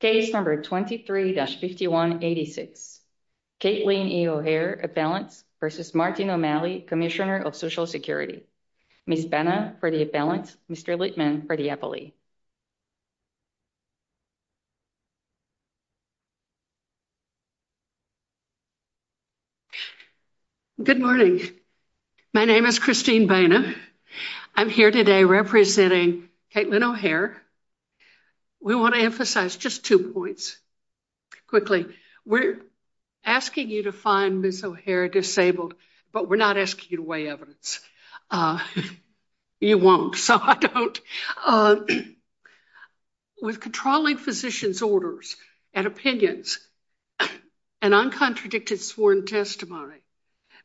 Case number 23-5186. Kaitlyn E. O'Hare, appellant, v. Martin O'Malley, Commissioner of Social Security. Ms. Benna for the appellant. Mr. Littman for the appellee. Good morning. My name is Christine Benna. I'm here today representing Kaitlyn O'Hare. We want to emphasize just two points quickly. We're asking you to find Ms. O'Hare disabled, but we're not asking you to weigh evidence. You won't, so I don't. With controlling physician's orders and opinions and uncontradicted sworn testimony,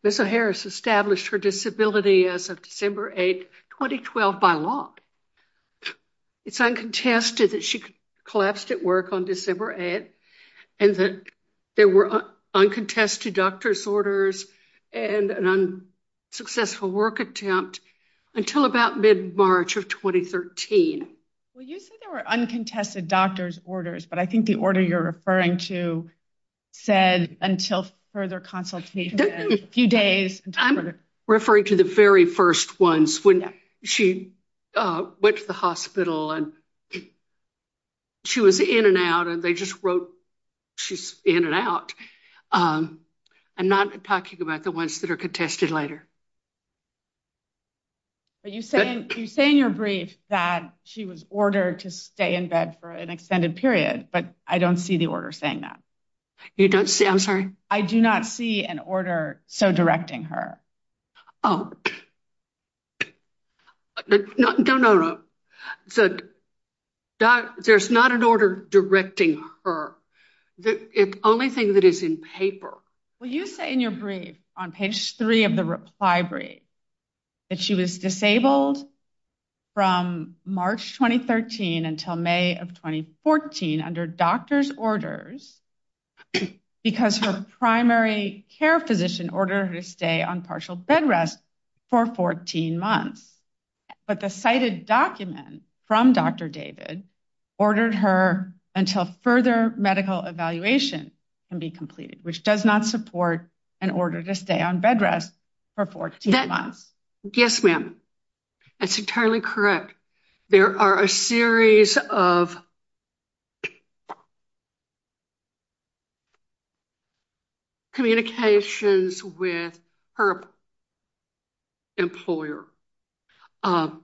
Ms. O'Hare has established her disability as of December 8, 2012, by law. It's uncontested that she collapsed at work on December 8 and that there were uncontested doctor's orders and an unsuccessful work attempt until about mid-March of 2013. Well, you said there were uncontested doctor's orders, but I think the order you're referring to said until further consultation, a few days. I'm referring to the very first ones when she went to the hospital and she was in and out, and they just wrote she's in and out. I'm not talking about the ones that are contested later. You say in your brief that she was ordered to stay in bed for an extended period, but I don't see the order saying that. You don't see, I'm sorry? I do not see an order so directing her. Oh. No, no, no. There's not an order directing her. The only thing that is in paper. Well, you say in your brief on page three of the reply brief that she was disabled from March 2013 until May of 2014 under doctor's orders because her primary care physician ordered her to stay on partial bed rest for 14 months, but the cited document from Dr. David ordered her until further medical evaluation can be completed, which does not support an order to stay on bed rest for 14 months. Yes, ma'am. That's entirely correct. There are a series of communications with her employer, and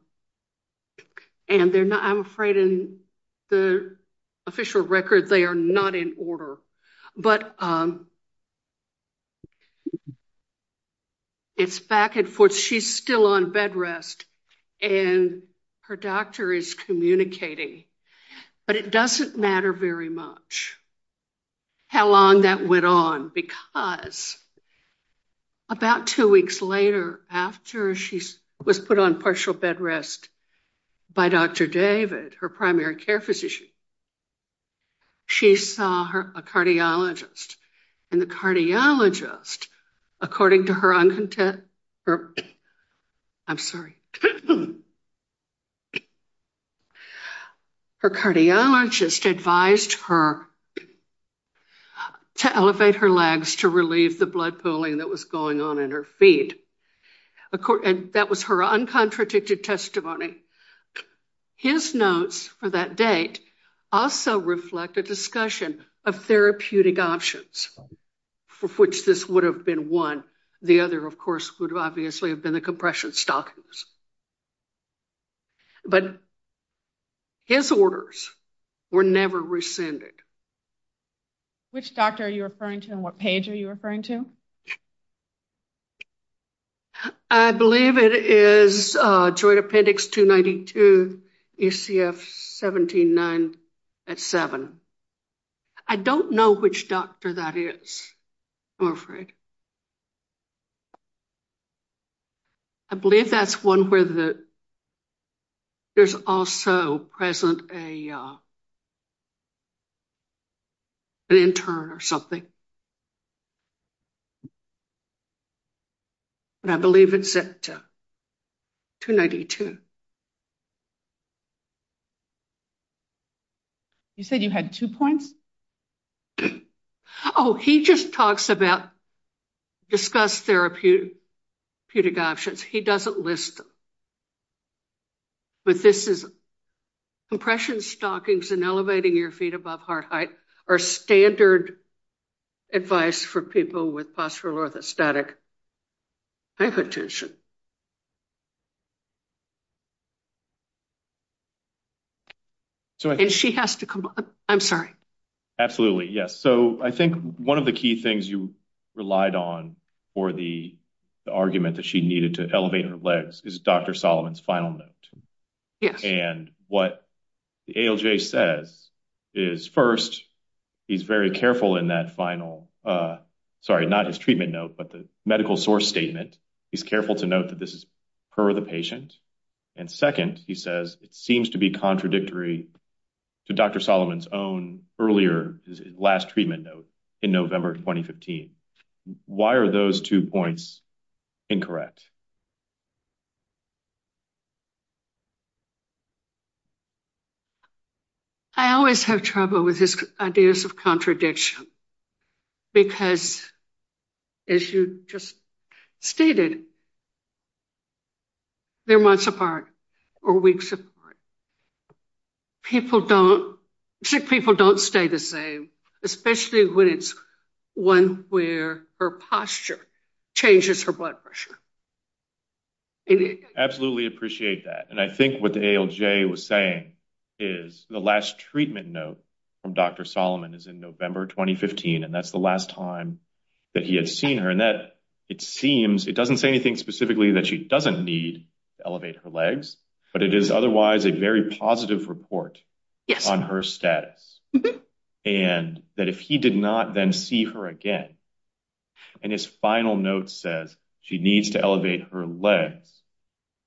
they're not, I'm afraid in the official record, they are not in order, but it's back and forth. She's still on bed rest, and her doctor is communicating, but it doesn't matter very much how long that went on because about two weeks later, after she was put on partial bed rest by Dr. David, her primary care physician, she saw a cardiologist, and the cardiologist, according to her, I'm sorry, her cardiologist advised her to elevate her legs to relieve the blood pooling that was going on in her feet, and that was her uncontradicted testimony. His notes for that date also reflect a discussion of therapeutic options for which this would have been one. The other, of course, would obviously have been the compression stockings, but his orders were never rescinded. Which doctor are you referring to and what page are you referring to? I believe it is Joint Appendix 292, ECF 17.9 at 7. I don't know which doctor that is, I'm afraid. I believe that's one where there's also present an intern or something. But I believe it's at 292. You said you had two points? Oh, he just talks about discussed therapeutic options. He doesn't list them. But this is compression stockings and elevating your feet above heart height are standard advice for people with postural orthostatic hypertension. I'm sorry. Absolutely, yes. So I think one of the key things you relied on for the argument that she needed to elevate her legs is Dr. Solomon's final note. And what the ALJ says is first, he's very careful in that final, sorry, not his treatment note, but the medical source statement. He's careful to note that this is per the patient. And second, he says it seems to be contradictory to Dr. Solomon's own earlier last treatment note in November 2015. Why are those two points incorrect? I always have trouble with his ideas of contradiction because, as you just stated, they're months apart or weeks apart. Sick people don't stay the same, especially when it's one where her posture changes her blood pressure. I absolutely appreciate that. And I think what the ALJ was saying is the last treatment note from Dr. Solomon is in November 2015. And that's the last time that he had seen her. And that it seems it doesn't say anything specifically that she doesn't need to elevate her legs, but it is otherwise a very positive report on her status. And that if he did not then see her again and his final note says she needs to elevate her legs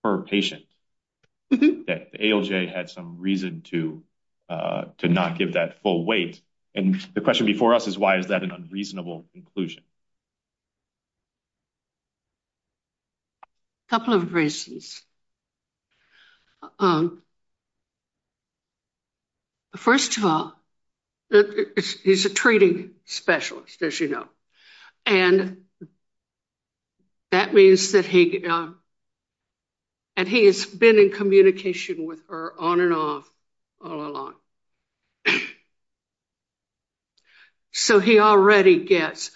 per patient, that ALJ had some reason to not give that full weight. And the question before us is why is that an unreasonable conclusion? A couple of reasons. First of all, he's a treating specialist, as you know, and that means that he, and he has been in communication with her on and off all along. And so he already gets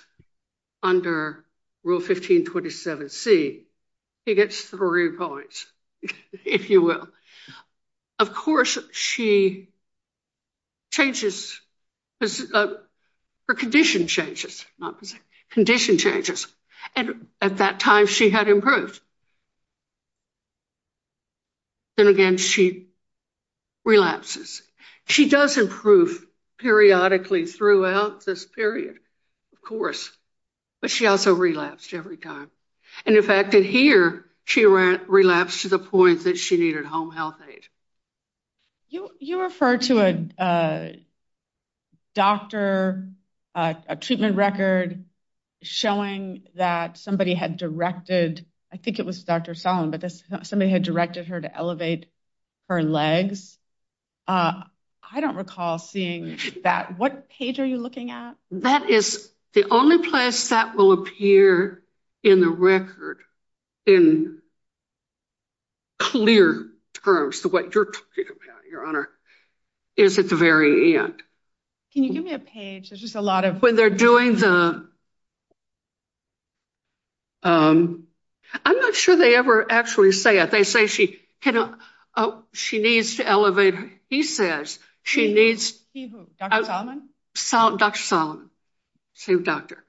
under Rule 1527C, he gets three points, if you will. Of course, she changes, her condition changes, not position, condition changes. And at that time she had improved. Then again, she relapses. She does improve periodically throughout this period, of course, but she also relapsed every time. And in fact, in here she relapsed to the point that she needed home health aid. You referred to a doctor, a treatment record showing that somebody had directed, I think it was Dr. Solomon, but somebody had directed her to elevate her legs. I don't recall seeing that. What page are you looking at? That is the only place that will appear in the record in clear terms, the way you're talking about it, Your Honor, is at the very end. Can you give me a page? There's just a lot of... They're doing the... I'm not sure they ever actually say it. They say she needs to elevate... He says she needs... He who? Dr. Solomon? Dr. Solomon, same doctor.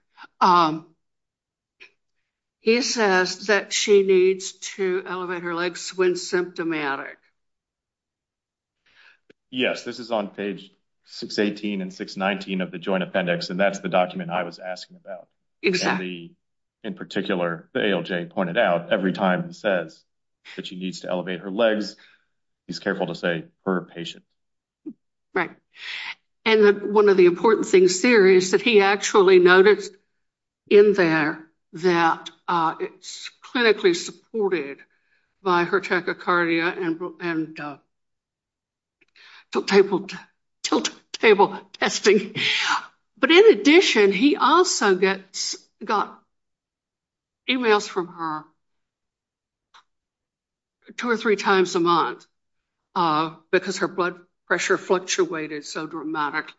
He says that she needs to elevate her legs when symptomatic. Yes, this is on page 618 and 619 of the Joint Appendix, and that's the document I was asking about. In particular, the ALJ pointed out, every time he says that she needs to elevate her legs, he's careful to say her patient. Right. And one of the important things here is that he actually noticed in there that it's clinically supported by her tachycardia and tilt table testing. But in addition, he also got emails from her two or three times a month because her blood pressure fluctuated so dramatically.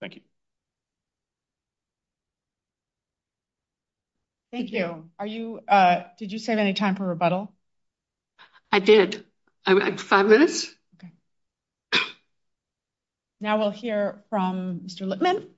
Thank you. Thank you. Did you save any time for rebuttal? I did. Five minutes. Okay. Now we'll hear from Mr. Lippman.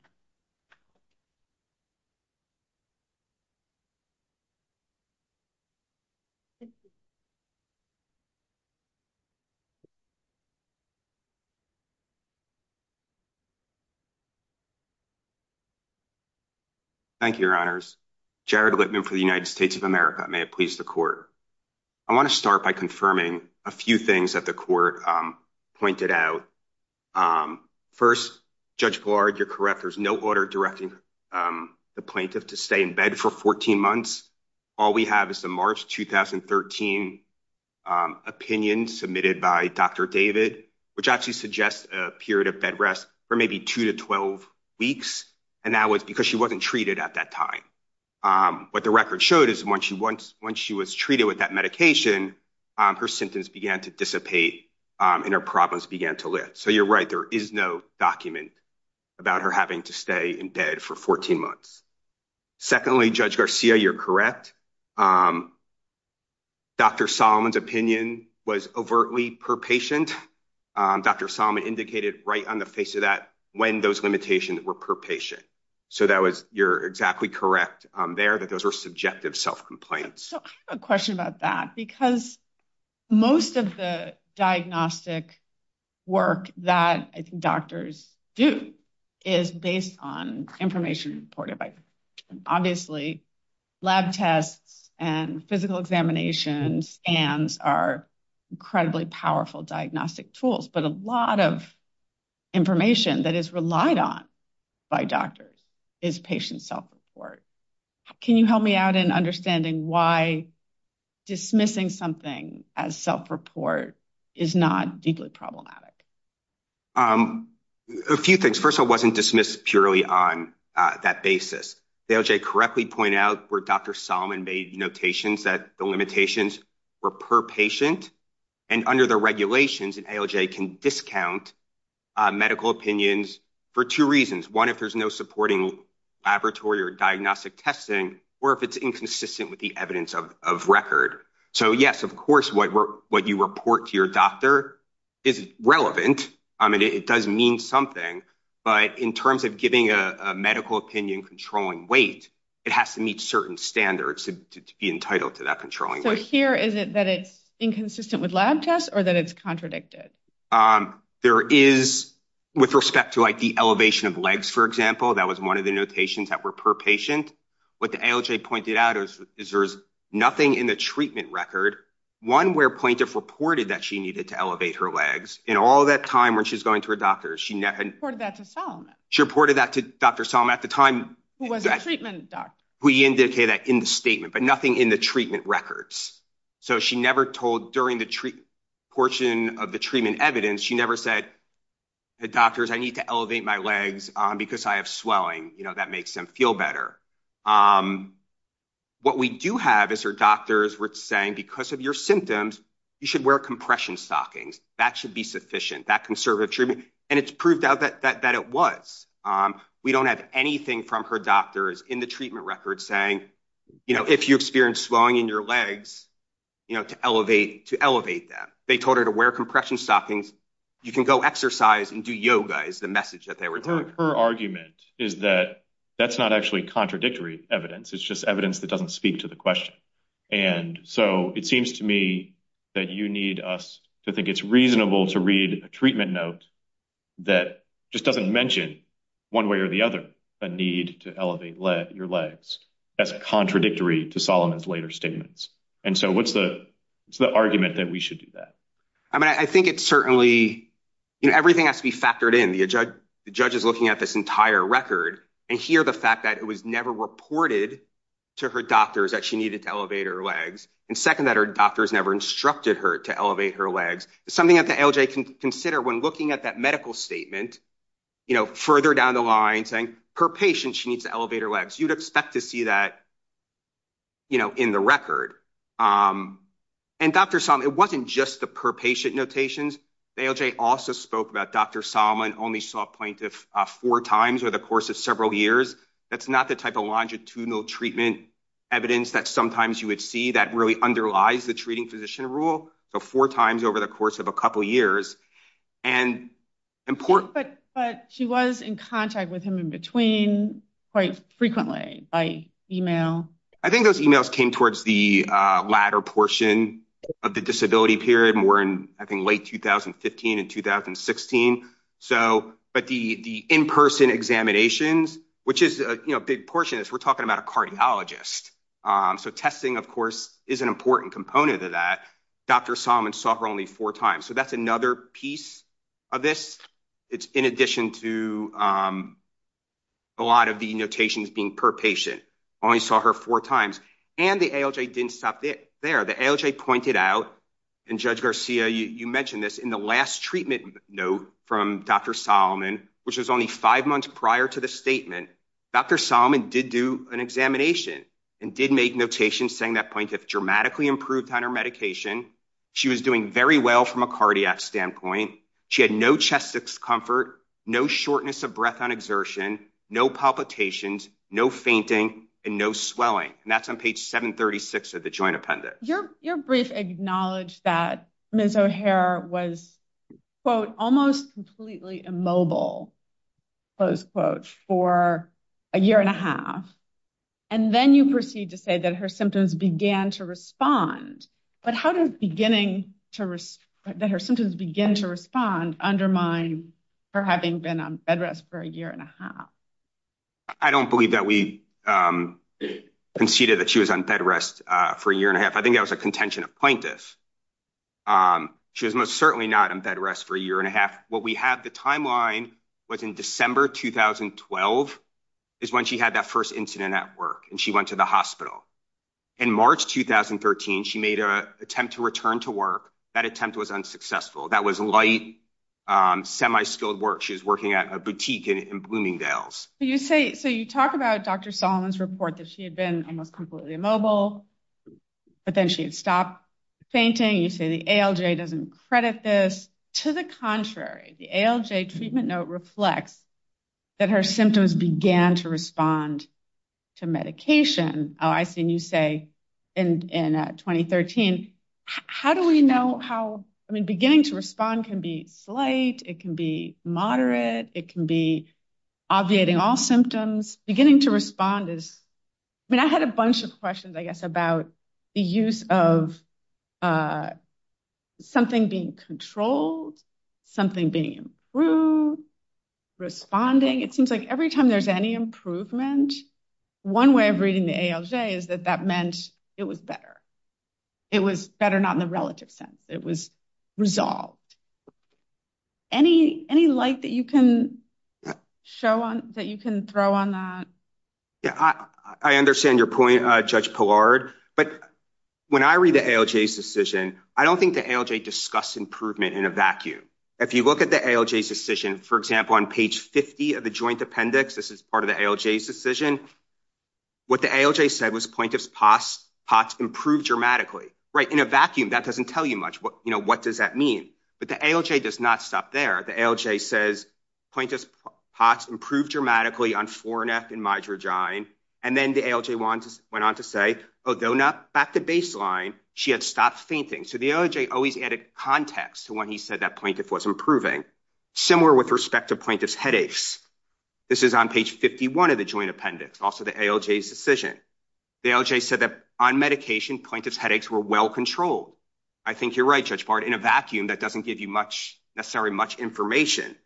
Thank you, Your Honors. Jared Lippman for the United States of America. May it please the court. I want to start by confirming a few things that the court pointed out. First, Judge Blard, you're correct. There's no order directing the plaintiff to stay in bed for 14 months. All we have is the March 2013 opinion submitted by Dr. David, which actually suggests a period of bed rest for maybe two to 12 weeks. And that was because she wasn't treated at that time. What the record showed is once she was treated with that medication, her symptoms began to dissipate and her problems began to lift. So you're right. There is no document about her having to stay in bed for 14 months. Secondly, Judge Garcia, you're correct. Dr. Solomon's opinion was overtly per patient. Dr. Solomon indicated right on the face of that when those limitations were per patient. So you're exactly correct there that those were subjective self-complaints. So I have a question about that because most of the diagnostic work that I think doctors do is based on information. And obviously, lab tests and physical examinations and are incredibly powerful diagnostic tools, but a lot of information that is relied on by doctors is patient self-report. Can you help me out in understanding why dismissing something as self-report is not deeply problematic? A few things. First of all, it wasn't dismissed purely on that basis. The ALJ correctly pointed out where Dr. Solomon made notations that the limitations were per patient. And under the regulations, an ALJ can discount medical opinions for two reasons. One, if there's no supporting laboratory or diagnostic testing, or if it's inconsistent with the evidence of record. So yes, of course, what you report to your doctor is relevant. I mean, it does mean something. But in terms of giving a medical opinion controlling weight, it has to meet certain standards to be entitled to that controlling weight. So here, is it that it's inconsistent with lab tests or that it's contradicted? There is, with respect to like the elevation of legs, for example, that was one of the notations that were per patient. What the ALJ pointed out is there's nothing in the treatment record. One where plaintiff reported that she needed to elevate her legs in all that time when she's going to a doctor. She reported that to Solomon. She reported that to Dr. Solomon at the time. Who was a treatment doctor. We indicate that in the statement, but nothing in the treatment records. So she never told during the portion of the treatment evidence, she never said, the doctors, I need to elevate my legs because I have swelling. That makes them feel better. What we do have is her doctors were saying, because of your symptoms, you should wear compression stockings. That should be sufficient, that conservative treatment. And it's proved out that it was. We don't have anything from her doctors in the treatment records saying, if you experience swelling in your legs, to elevate them. They told her to wear compression stockings. You can go exercise and do yoga is the message that they were telling. Her argument is that that's not actually contradictory evidence. It's just evidence that doesn't speak to the question. And so it seems to me that you need us to think it's reasonable to read a treatment note that just doesn't mention one way or the other, a need to elevate your legs as contradictory to Solomon's later statements. And so what's the argument that we should do that? I mean, I think it's certainly, you know, everything has to be factored in. The judge is looking at this entire record and hear the fact that it was never reported to her doctors that she needed to elevate her legs. And second, that her doctors never instructed her to elevate her legs. Something that the ALJ can consider when looking at that medical statement, you know, further down the line saying per patient, she needs to elevate her legs. You'd expect to see that, you know, in the record. And Dr. Solomon, it wasn't just the per patient notations. The ALJ also spoke about Dr. Solomon only saw a plaintiff four times over the course of several years. That's not the type of longitudinal treatment evidence that sometimes you would see that really underlies the treating physician rule. So four times over the course of a couple of years and important. But she was in contact with him in between quite frequently by email. I think those emails came towards the latter portion of the disability period more in, I think, late 2015 and 2016. So, but the in-person examinations, which is a big portion, we're talking about a cardiologist. So testing, of course, is an important component of that. Dr. Solomon saw her only four times. So that's another piece of this. It's in addition to a lot of the notations being per patient. Only saw her four times. And the ALJ didn't stop there. The ALJ pointed out, and Judge Garcia, you mentioned this, in the last treatment note from Dr. Solomon, which was only five months prior to the statement, Dr. Solomon did do an examination and did make notations saying that plaintiff dramatically improved on her medication. She was doing very well from a cardiac standpoint. She had no chest discomfort, no shortness of breath on exertion, no palpitations, no fainting, and no swelling. And that's on page 736 of the joint appendix. Your brief acknowledged that Ms. O'Hare was quote, almost completely immobile, close quote, for a year and a half. And then you proceed to say that her symptoms began to respond. But how does beginning to respond, that her symptoms begin to respond, undermine her having been on bedrest for a year and a half? I don't believe that we conceded that she was on bedrest for a year and a half. I think that was a contention of plaintiff. She was most certainly not on bedrest for a year and a half. What we have, the timeline was in December 2012 is when she had that first incident at work and she went to the hospital. In March 2013, she made an attempt to return to work. That attempt was unsuccessful. That was light, semi-skilled work. She was working at a boutique in Bloomingdale's. So you talk about Dr. Solomon's report that she had been almost completely immobile, but then she had stopped fainting. You say the ALJ doesn't credit this. To the contrary, the ALJ treatment note reflects that her symptoms began to respond to medication. I seen you say in 2013, how do we know how, I mean, beginning to respond can be slight, it can be moderate, it can be obviating all symptoms. Beginning to respond is, I mean, I had a bunch of questions, I guess, about the use of something being controlled, something being improved, responding. It seems like every time there's any improvement, one way of reading the ALJ is that that meant it was better. It was better not in the relative sense. It was resolved. Any light that you can show on, that you can throw on that? Yeah, I understand your point, Judge Pillard, but when I read the ALJ's decision, I don't think the ALJ discussed improvement in a vacuum. If you look at the ALJ's decision, for example, on page 50 of the joint appendix, this is part of the ALJ's decision, what the ALJ said was plaintiff's POTS improved dramatically, right? In a vacuum, that doesn't tell you much, you know, what does that mean? But the ALJ does not stop there. The ALJ says plaintiff's POTS improved dramatically on 4NF and midragine, and then the ALJ went on to say, oh, back to baseline, she had stopped fainting. So the ALJ always added context to when he said that plaintiff was improving. Similar with respect to plaintiff's headaches. This is on page 51 of the joint appendix, also the ALJ's decision. The ALJ said that on medication, plaintiff's headaches were well controlled. I think you're right, Judge Pillard, in a vacuum, that doesn't give you much, necessarily much information.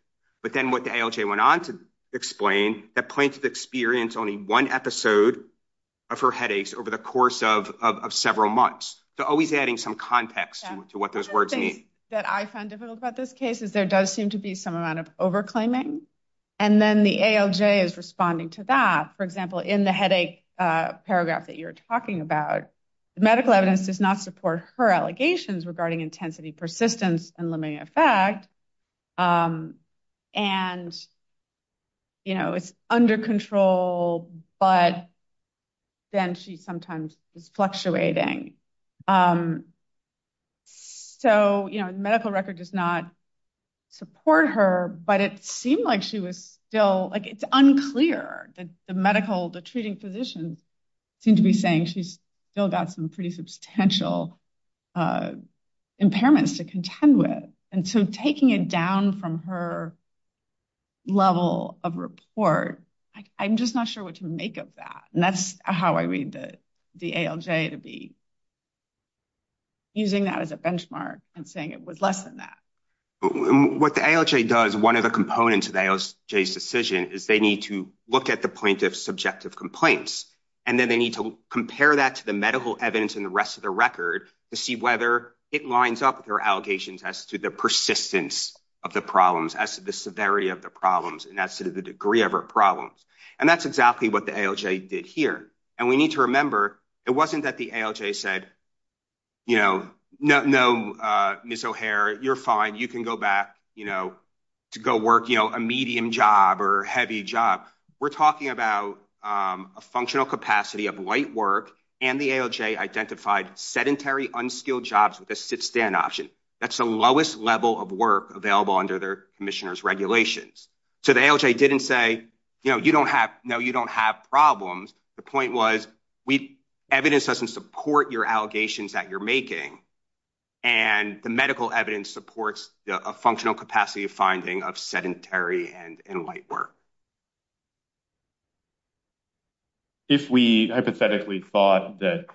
But then what the ALJ went on to explain, that plaintiff experienced only one episode of her headaches over the course of several months. So always adding some context to what those words mean. One of the things that I found difficult about this case is there does seem to be some amount of over-claiming, and then the ALJ is responding to that. For example, in the headache paragraph that you're talking about, the medical evidence does not support her allegations regarding intensity, persistence, and limiting effect. And, you know, it's under control, but then she sometimes is fluctuating. So, you know, the medical record does not support her, but it seemed like she was still, like, it's unclear that the medical, the treating physicians seem to be saying she's still got some pretty substantial impairments to contend with. And so taking it down from her level of report, I'm just not sure what to make of that. And that's how I read the ALJ to be using that as a benchmark and saying it was less than that. What the ALJ does, one of the components of the ALJ's decision is they need to look at the plaintiff's subjective complaints, and then they need to compare that to the medical evidence in the rest of the record to see whether it lines up with her allegations as to the persistence of the problems, as to the severity of the problems, and as to the degree of her problems. And that's exactly what the ALJ did here. And we need to remember it wasn't that the ALJ said, you know, no, Ms. O'Hare, you're fine. You can go back, you know, to go work, you know, a medium job or heavy job. We're talking about a functional capacity of light work, and the ALJ identified sedentary, unskilled jobs with a sit-stand option. That's the lowest level of work available under their commissioner's regulations. So the ALJ didn't say, you know, you don't have, no, you don't have problems. The point was, evidence doesn't support your allegations that you're making, and the medical evidence supports a functional capacity of finding of sedentary and light work. If we hypothetically thought that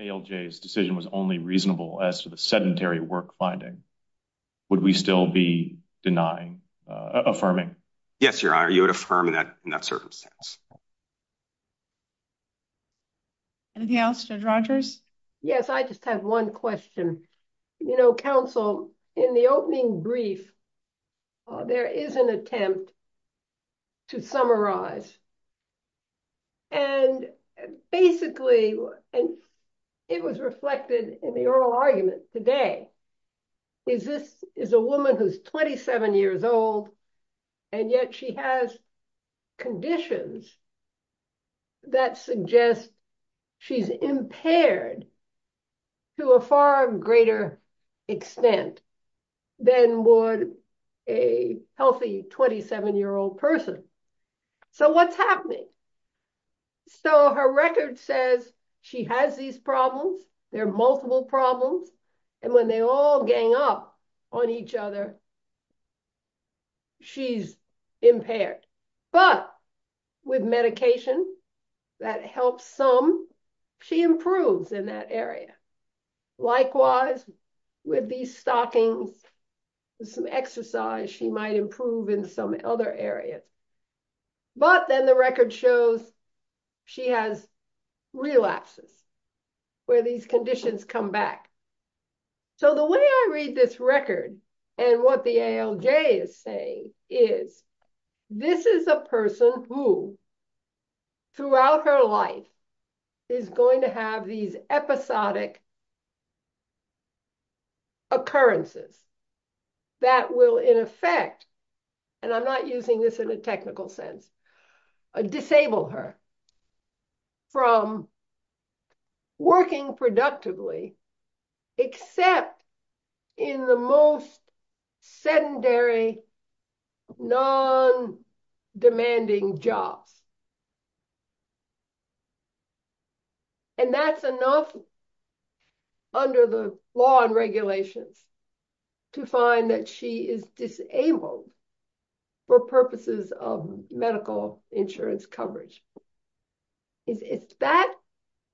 ALJ's decision was only reasonable as to the sedentary work finding, would we still be denying, affirming? Yes, Your Honor, you would affirm in that circumstance. Anything else, Judge Rogers? Yes, I just have one question. You know, counsel, in the opening brief, there is an attempt to summarize. And basically, it was reflected in the oral argument today. Is this, is a woman who's 27 years old, and yet she has conditions that suggest she's impaired to a far greater extent than would a healthy 27-year-old person. So what's happening? So her record says she has these problems. They're multiple problems. And when they all gang up on each other, she's impaired. But with medication that helps some, she improves in that area. Likewise, with these stockings, some exercise, she might improve in some other areas. But then the record shows she has relapses, where these conditions come back. So the way I read this record, and what the ALJ is saying is, this is a person who throughout her life is going to have these episodic occurrences that will in effect, and I'm not using this in a technical sense, disable her from working productively, except in the most sedentary, non-demanding jobs. And that's enough under the law and regulations to find that she is disabled for purposes of medical insurance coverage. Is that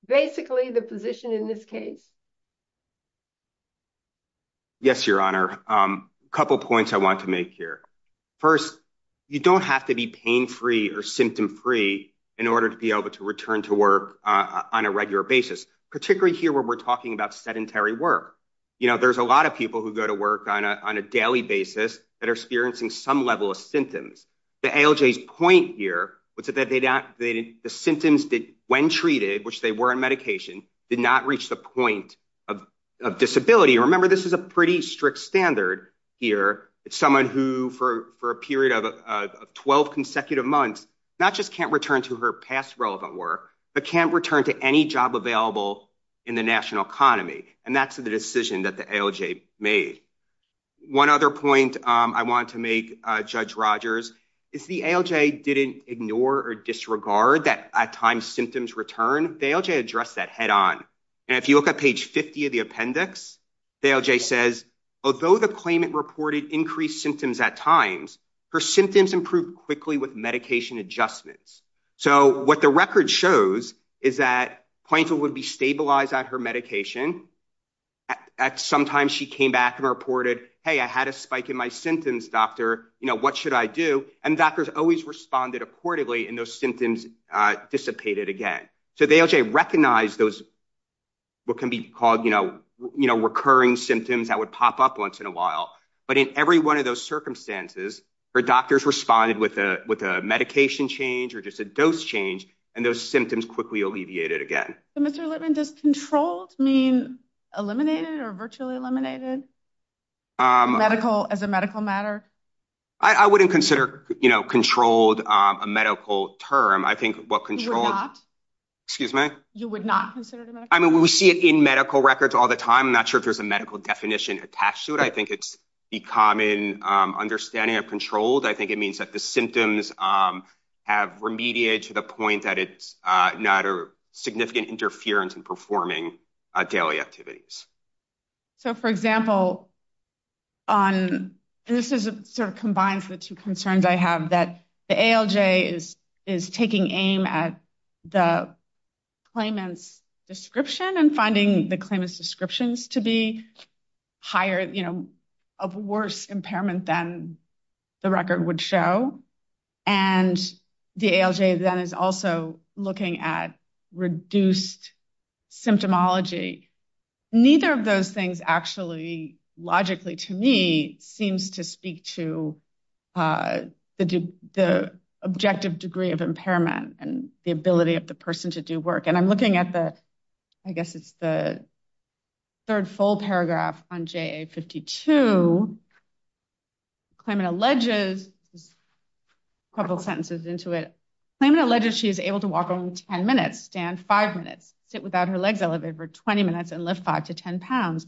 basically the position in this case? Yes, Your Honor. A couple of points I want to make here. First, you don't have to be pain-free or symptom-free in order to be able to return to work on a regular basis, particularly here when we're talking about sedentary work. There's a lot of people who go to work on a daily basis that are experiencing some level of symptoms. The ALJ's point here was that the symptoms when treated, which they were in medication, did not reach the point of disability. Remember, this is a pretty strict standard here. It's someone who for a period of 12 consecutive months, not just can't return to her past relevant work, but can't return to any job available in the national economy. And that's the decision that the ALJ made. One other point I want to make, Judge Rogers, is the ALJ didn't ignore or disregard that at times symptoms return. The ALJ addressed that head on. And if you look at page 50 of the appendix, the ALJ says, although the claimant reported increased symptoms at times, her symptoms improved quickly with medication adjustments. So what the record shows is that plaintiff would be stabilized at her medication. At some time, she came back and reported, hey, I had a spike in my symptoms, doctor. What should I do? And doctors always responded accordingly, and those symptoms dissipated again. So the ALJ recognized those what can be called recurring symptoms that would pop up once in a while. But in every one of those circumstances, her doctors responded with a medication change or just a dose change, and those symptoms quickly alleviated again. So, Mr. Lippman, does controlled mean eliminated or virtually eliminated as a medical matter? I wouldn't consider controlled a medical term. I think what controlled... You would not? Excuse me? You would not consider it a medical term? I mean, we see it in medical records all the time. I'm not sure if there's a medical definition attached to it. I think it's the common understanding of controlled. I think it means that the symptoms have remediated to the point that it's not a significant interference in performing daily activities. So, for example, on... This sort of combines the two concerns I have, that the ALJ is taking aim at the claimant's description and finding the claimant's descriptions to be higher, of worse impairment than the record would show. And the ALJ then is also looking at reduced symptomology. Neither of those things actually, logically to me, seems to speak to the objective degree of impairment and the ability of the person to do work. And I'm looking at the, I guess it's the third full paragraph on JA-52. Claimant alleges... A couple sentences into it. Claimant alleges she is able to walk on 10 minutes, stand 5 minutes, sit without her legs elevated for 20 minutes, and lift 5 to 10 pounds.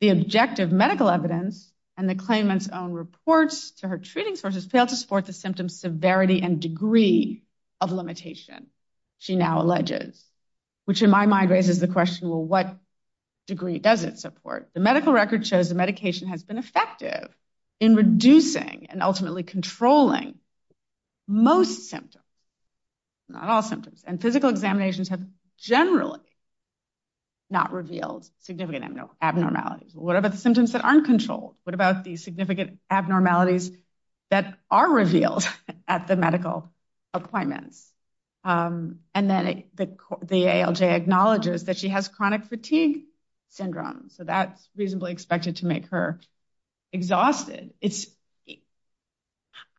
The objective medical evidence and the claimant's own reports to her treating sources fail to severity and degree of limitation, she now alleges. Which in my mind raises the question, well, what degree does it support? The medical record shows the medication has been effective in reducing and ultimately controlling most symptoms. Not all symptoms. And physical examinations have generally not revealed significant abnormalities. What about the significant abnormalities that are revealed at the medical appointments? And then the ALJ acknowledges that she has chronic fatigue syndrome. So that's reasonably expected to make her exhausted.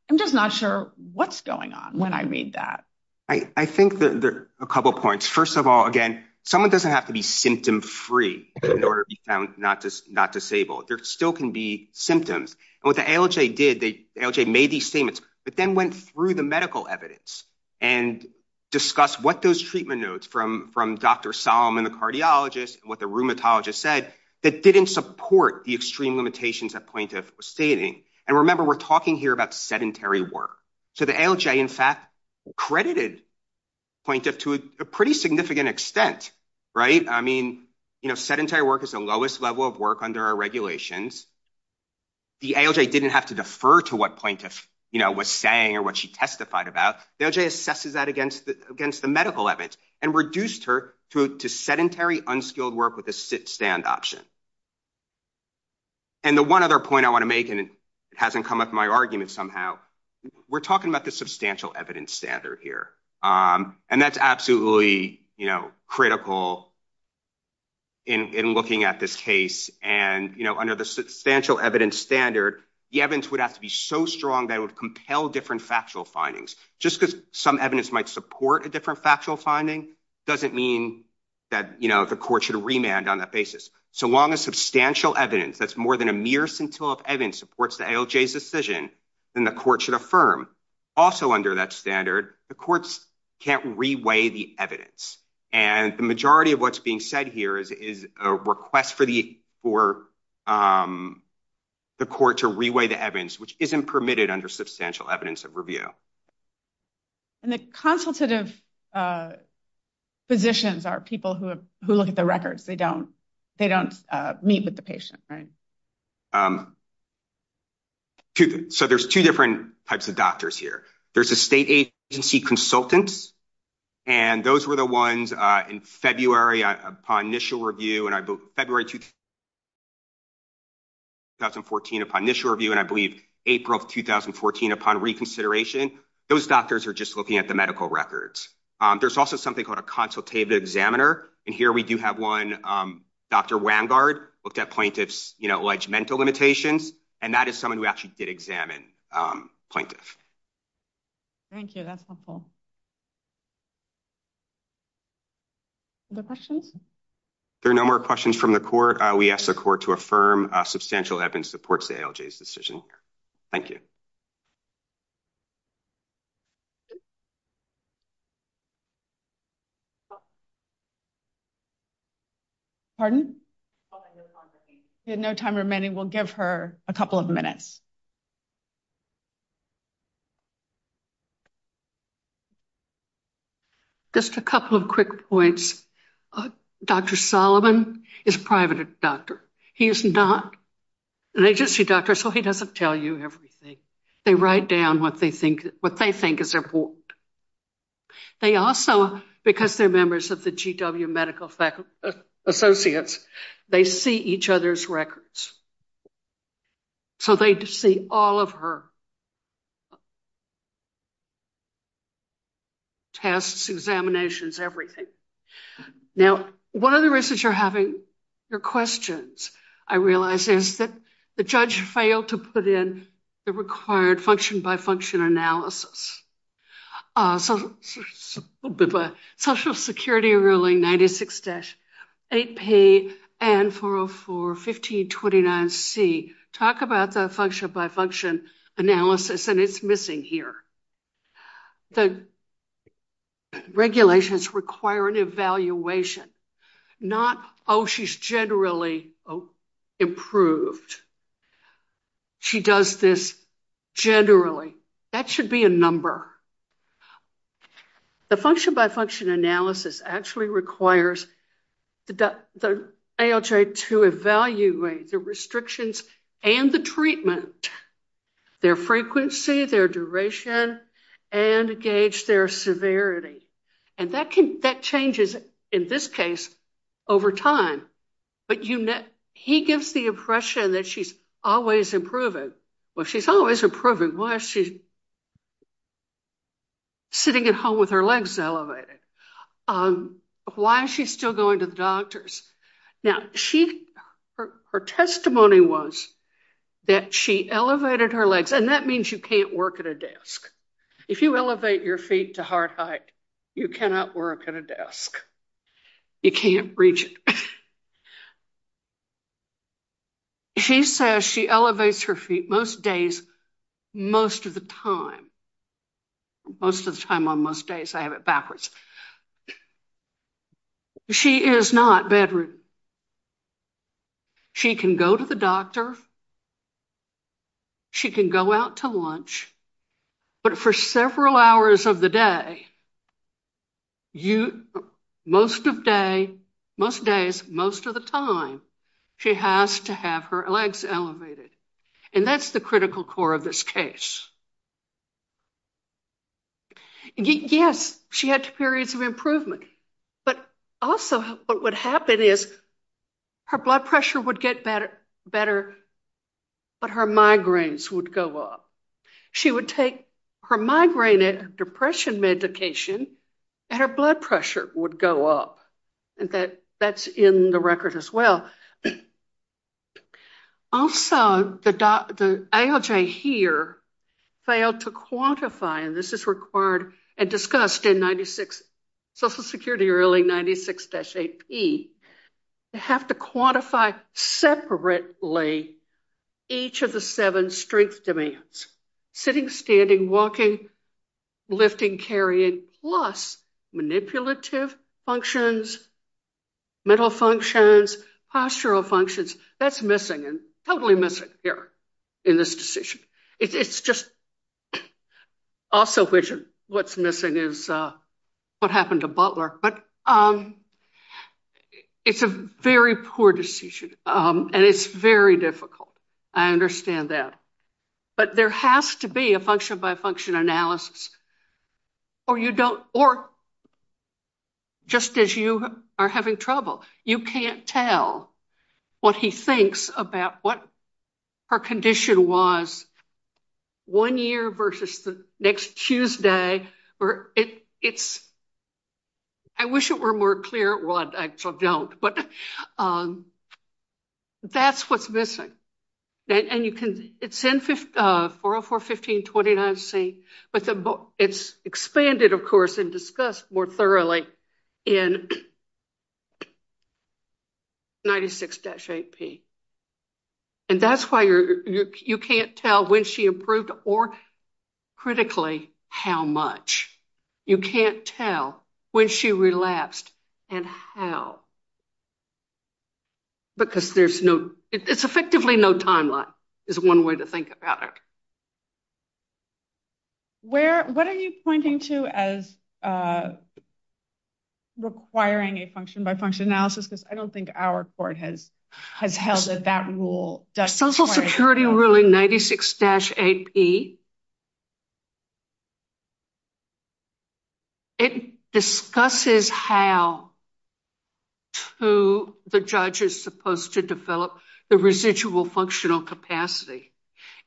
I'm just not sure what's going on when I read that. I think there are a couple points. First of all, again, someone doesn't have to be symptom-free in order to be found not disabled. There still can be symptoms. And what the ALJ did, the ALJ made these statements, but then went through the medical evidence and discussed what those treatment notes from Dr. Solomon, the cardiologist, and what the rheumatologist said, that didn't support the extreme limitations that plaintiff was stating. And remember, we're talking here about sedentary work. So the ALJ, in fact, credited plaintiff to a pretty extent. I mean, sedentary work is the lowest level of work under our regulations. The ALJ didn't have to defer to what plaintiff was saying or what she testified about. The ALJ assesses that against the medical evidence and reduced her to sedentary, unskilled work with a sit-stand option. And the one other point I want to make, and it hasn't come up in my argument somehow, we're talking about the substantial evidence standard here. And that's absolutely critical in looking at this case. And under the substantial evidence standard, the evidence would have to be so strong that it would compel different factual findings. Just because some evidence might support a different factual finding doesn't mean that the court should remand on that basis. So long as substantial evidence that's more than a mere scintilla of evidence supports ALJ's decision, then the court should affirm. Also under that standard, the courts can't reweigh the evidence. And the majority of what's being said here is a request for the court to reweigh the evidence, which isn't permitted under substantial evidence of review. And the consultative physicians are people who look at the records. They don't meet with the patient, right? So there's two different types of doctors here. There's a state agency consultant, and those were the ones in February upon initial review. And I believe April of 2014 upon reconsideration, those doctors are just looking at the medical records. There's also something called a consultative examiner. And here we do have one, Dr. Wangard, looked at plaintiff's legimental limitations, and that is someone who actually did examine plaintiff. Thank you. That's helpful. Other questions? There are no more questions from the court. We ask the court to affirm substantial evidence supports ALJ's decision. Thank you. Pardon? We have no time remaining. We'll give her a couple of minutes. Just a couple of quick points. Dr. Solomon is a private doctor. He is not an agency doctor, so he doesn't tell you everything. They write down what they think is important. They also, because they're members of the GW Medical Associates, they see each other's records. So they see all of her tests, examinations, everything. Now, one of the reasons you're having your questions, I realize, is that the judge failed to put in the required function-by-function analysis. So Social Security Ruling 96-8P and 404-1529C talk about the function-by-function analysis, and it's missing here. The regulations require an evaluation, not, oh, she's generally improved. She does this generally. That should be a number. The function-by-function analysis actually requires the ALJ to evaluate the restrictions and the treatment, their frequency, their duration, and gauge their severity. And that changes, in this case, over time. But he gives the impression that she's always improving. Well, she's always improving. Why is she sitting at home with her legs elevated? Why is she still going to the doctors? Now, her testimony was that she elevated her legs, and that means you can't work at a desk. If you elevate your feet to heart height, you cannot work at a desk. You can't reach it. She says she elevates her feet most days, most of the time. Most of the time on most days, I have it backwards. She is not bedroom. She can go to the doctor. She can go out to lunch. But for several hours of the day, most days, most of the time, she has to have her legs elevated. And that's the critical core of this case. Yes, she had periods of improvement. But also, what would happen is her blood pressure would better, but her migraines would go up. She would take her migraine and depression medication, and her blood pressure would go up. And that's in the record as well. Also, the ALJ here failed to quantify, and this is required and discussed in Social Security Early 96-8P, you have to quantify separately each of the seven strength demands, sitting, standing, walking, lifting, carrying, plus manipulative functions, mental functions, postural functions. That's missing and totally missing here in this decision. It's just also, what's missing is what happened to Butler. But it's a very poor decision, and it's very difficult. I understand that. But there has to be a function-by-function analysis, or you don't, or just as you are having trouble, you can't tell what he thinks about what her condition was one year versus the next Tuesday, or it's, I wish it were more clear. Well, I actually don't, but that's what's missing. And you can, it's in 404-1529C, but it's expanded, of course, and discussed more thoroughly in 96-8P. And that's why you can't tell when she improved or, critically, how much. You can't tell when she relapsed and how, because there's no, it's effectively no timeline is one way to think about it. Where, what are you pointing to as requiring a function-by-function analysis? Because I don't think our court has held that that rule. Social Security ruling 96-8P, it discusses how to, the judge is supposed to develop the residual functional capacity.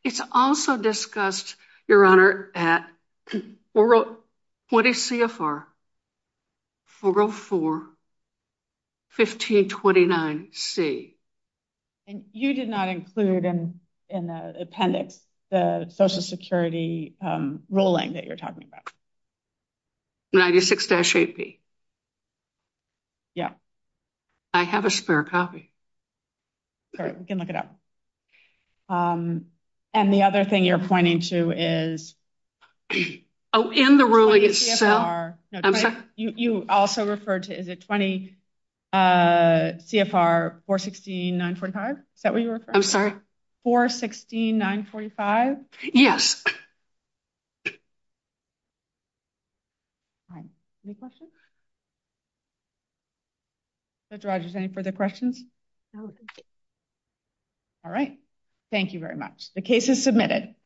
It's also discussed, Your Honor, at 404-1529C. And you did not include in the appendix the Social Security ruling that you're talking about? 96-8P. Yeah. I have a spare copy. All right. We can look it up. And the other thing you're pointing to is? Oh, in the ruling itself. You also referred to, is it 20 CFR 416-945? Is that what you were referring to? I'm sorry? 416-945? Yes. All right. Any questions? Judge Rogers, any further questions? No, thank you. All right. Thank you very much. The case is submitted.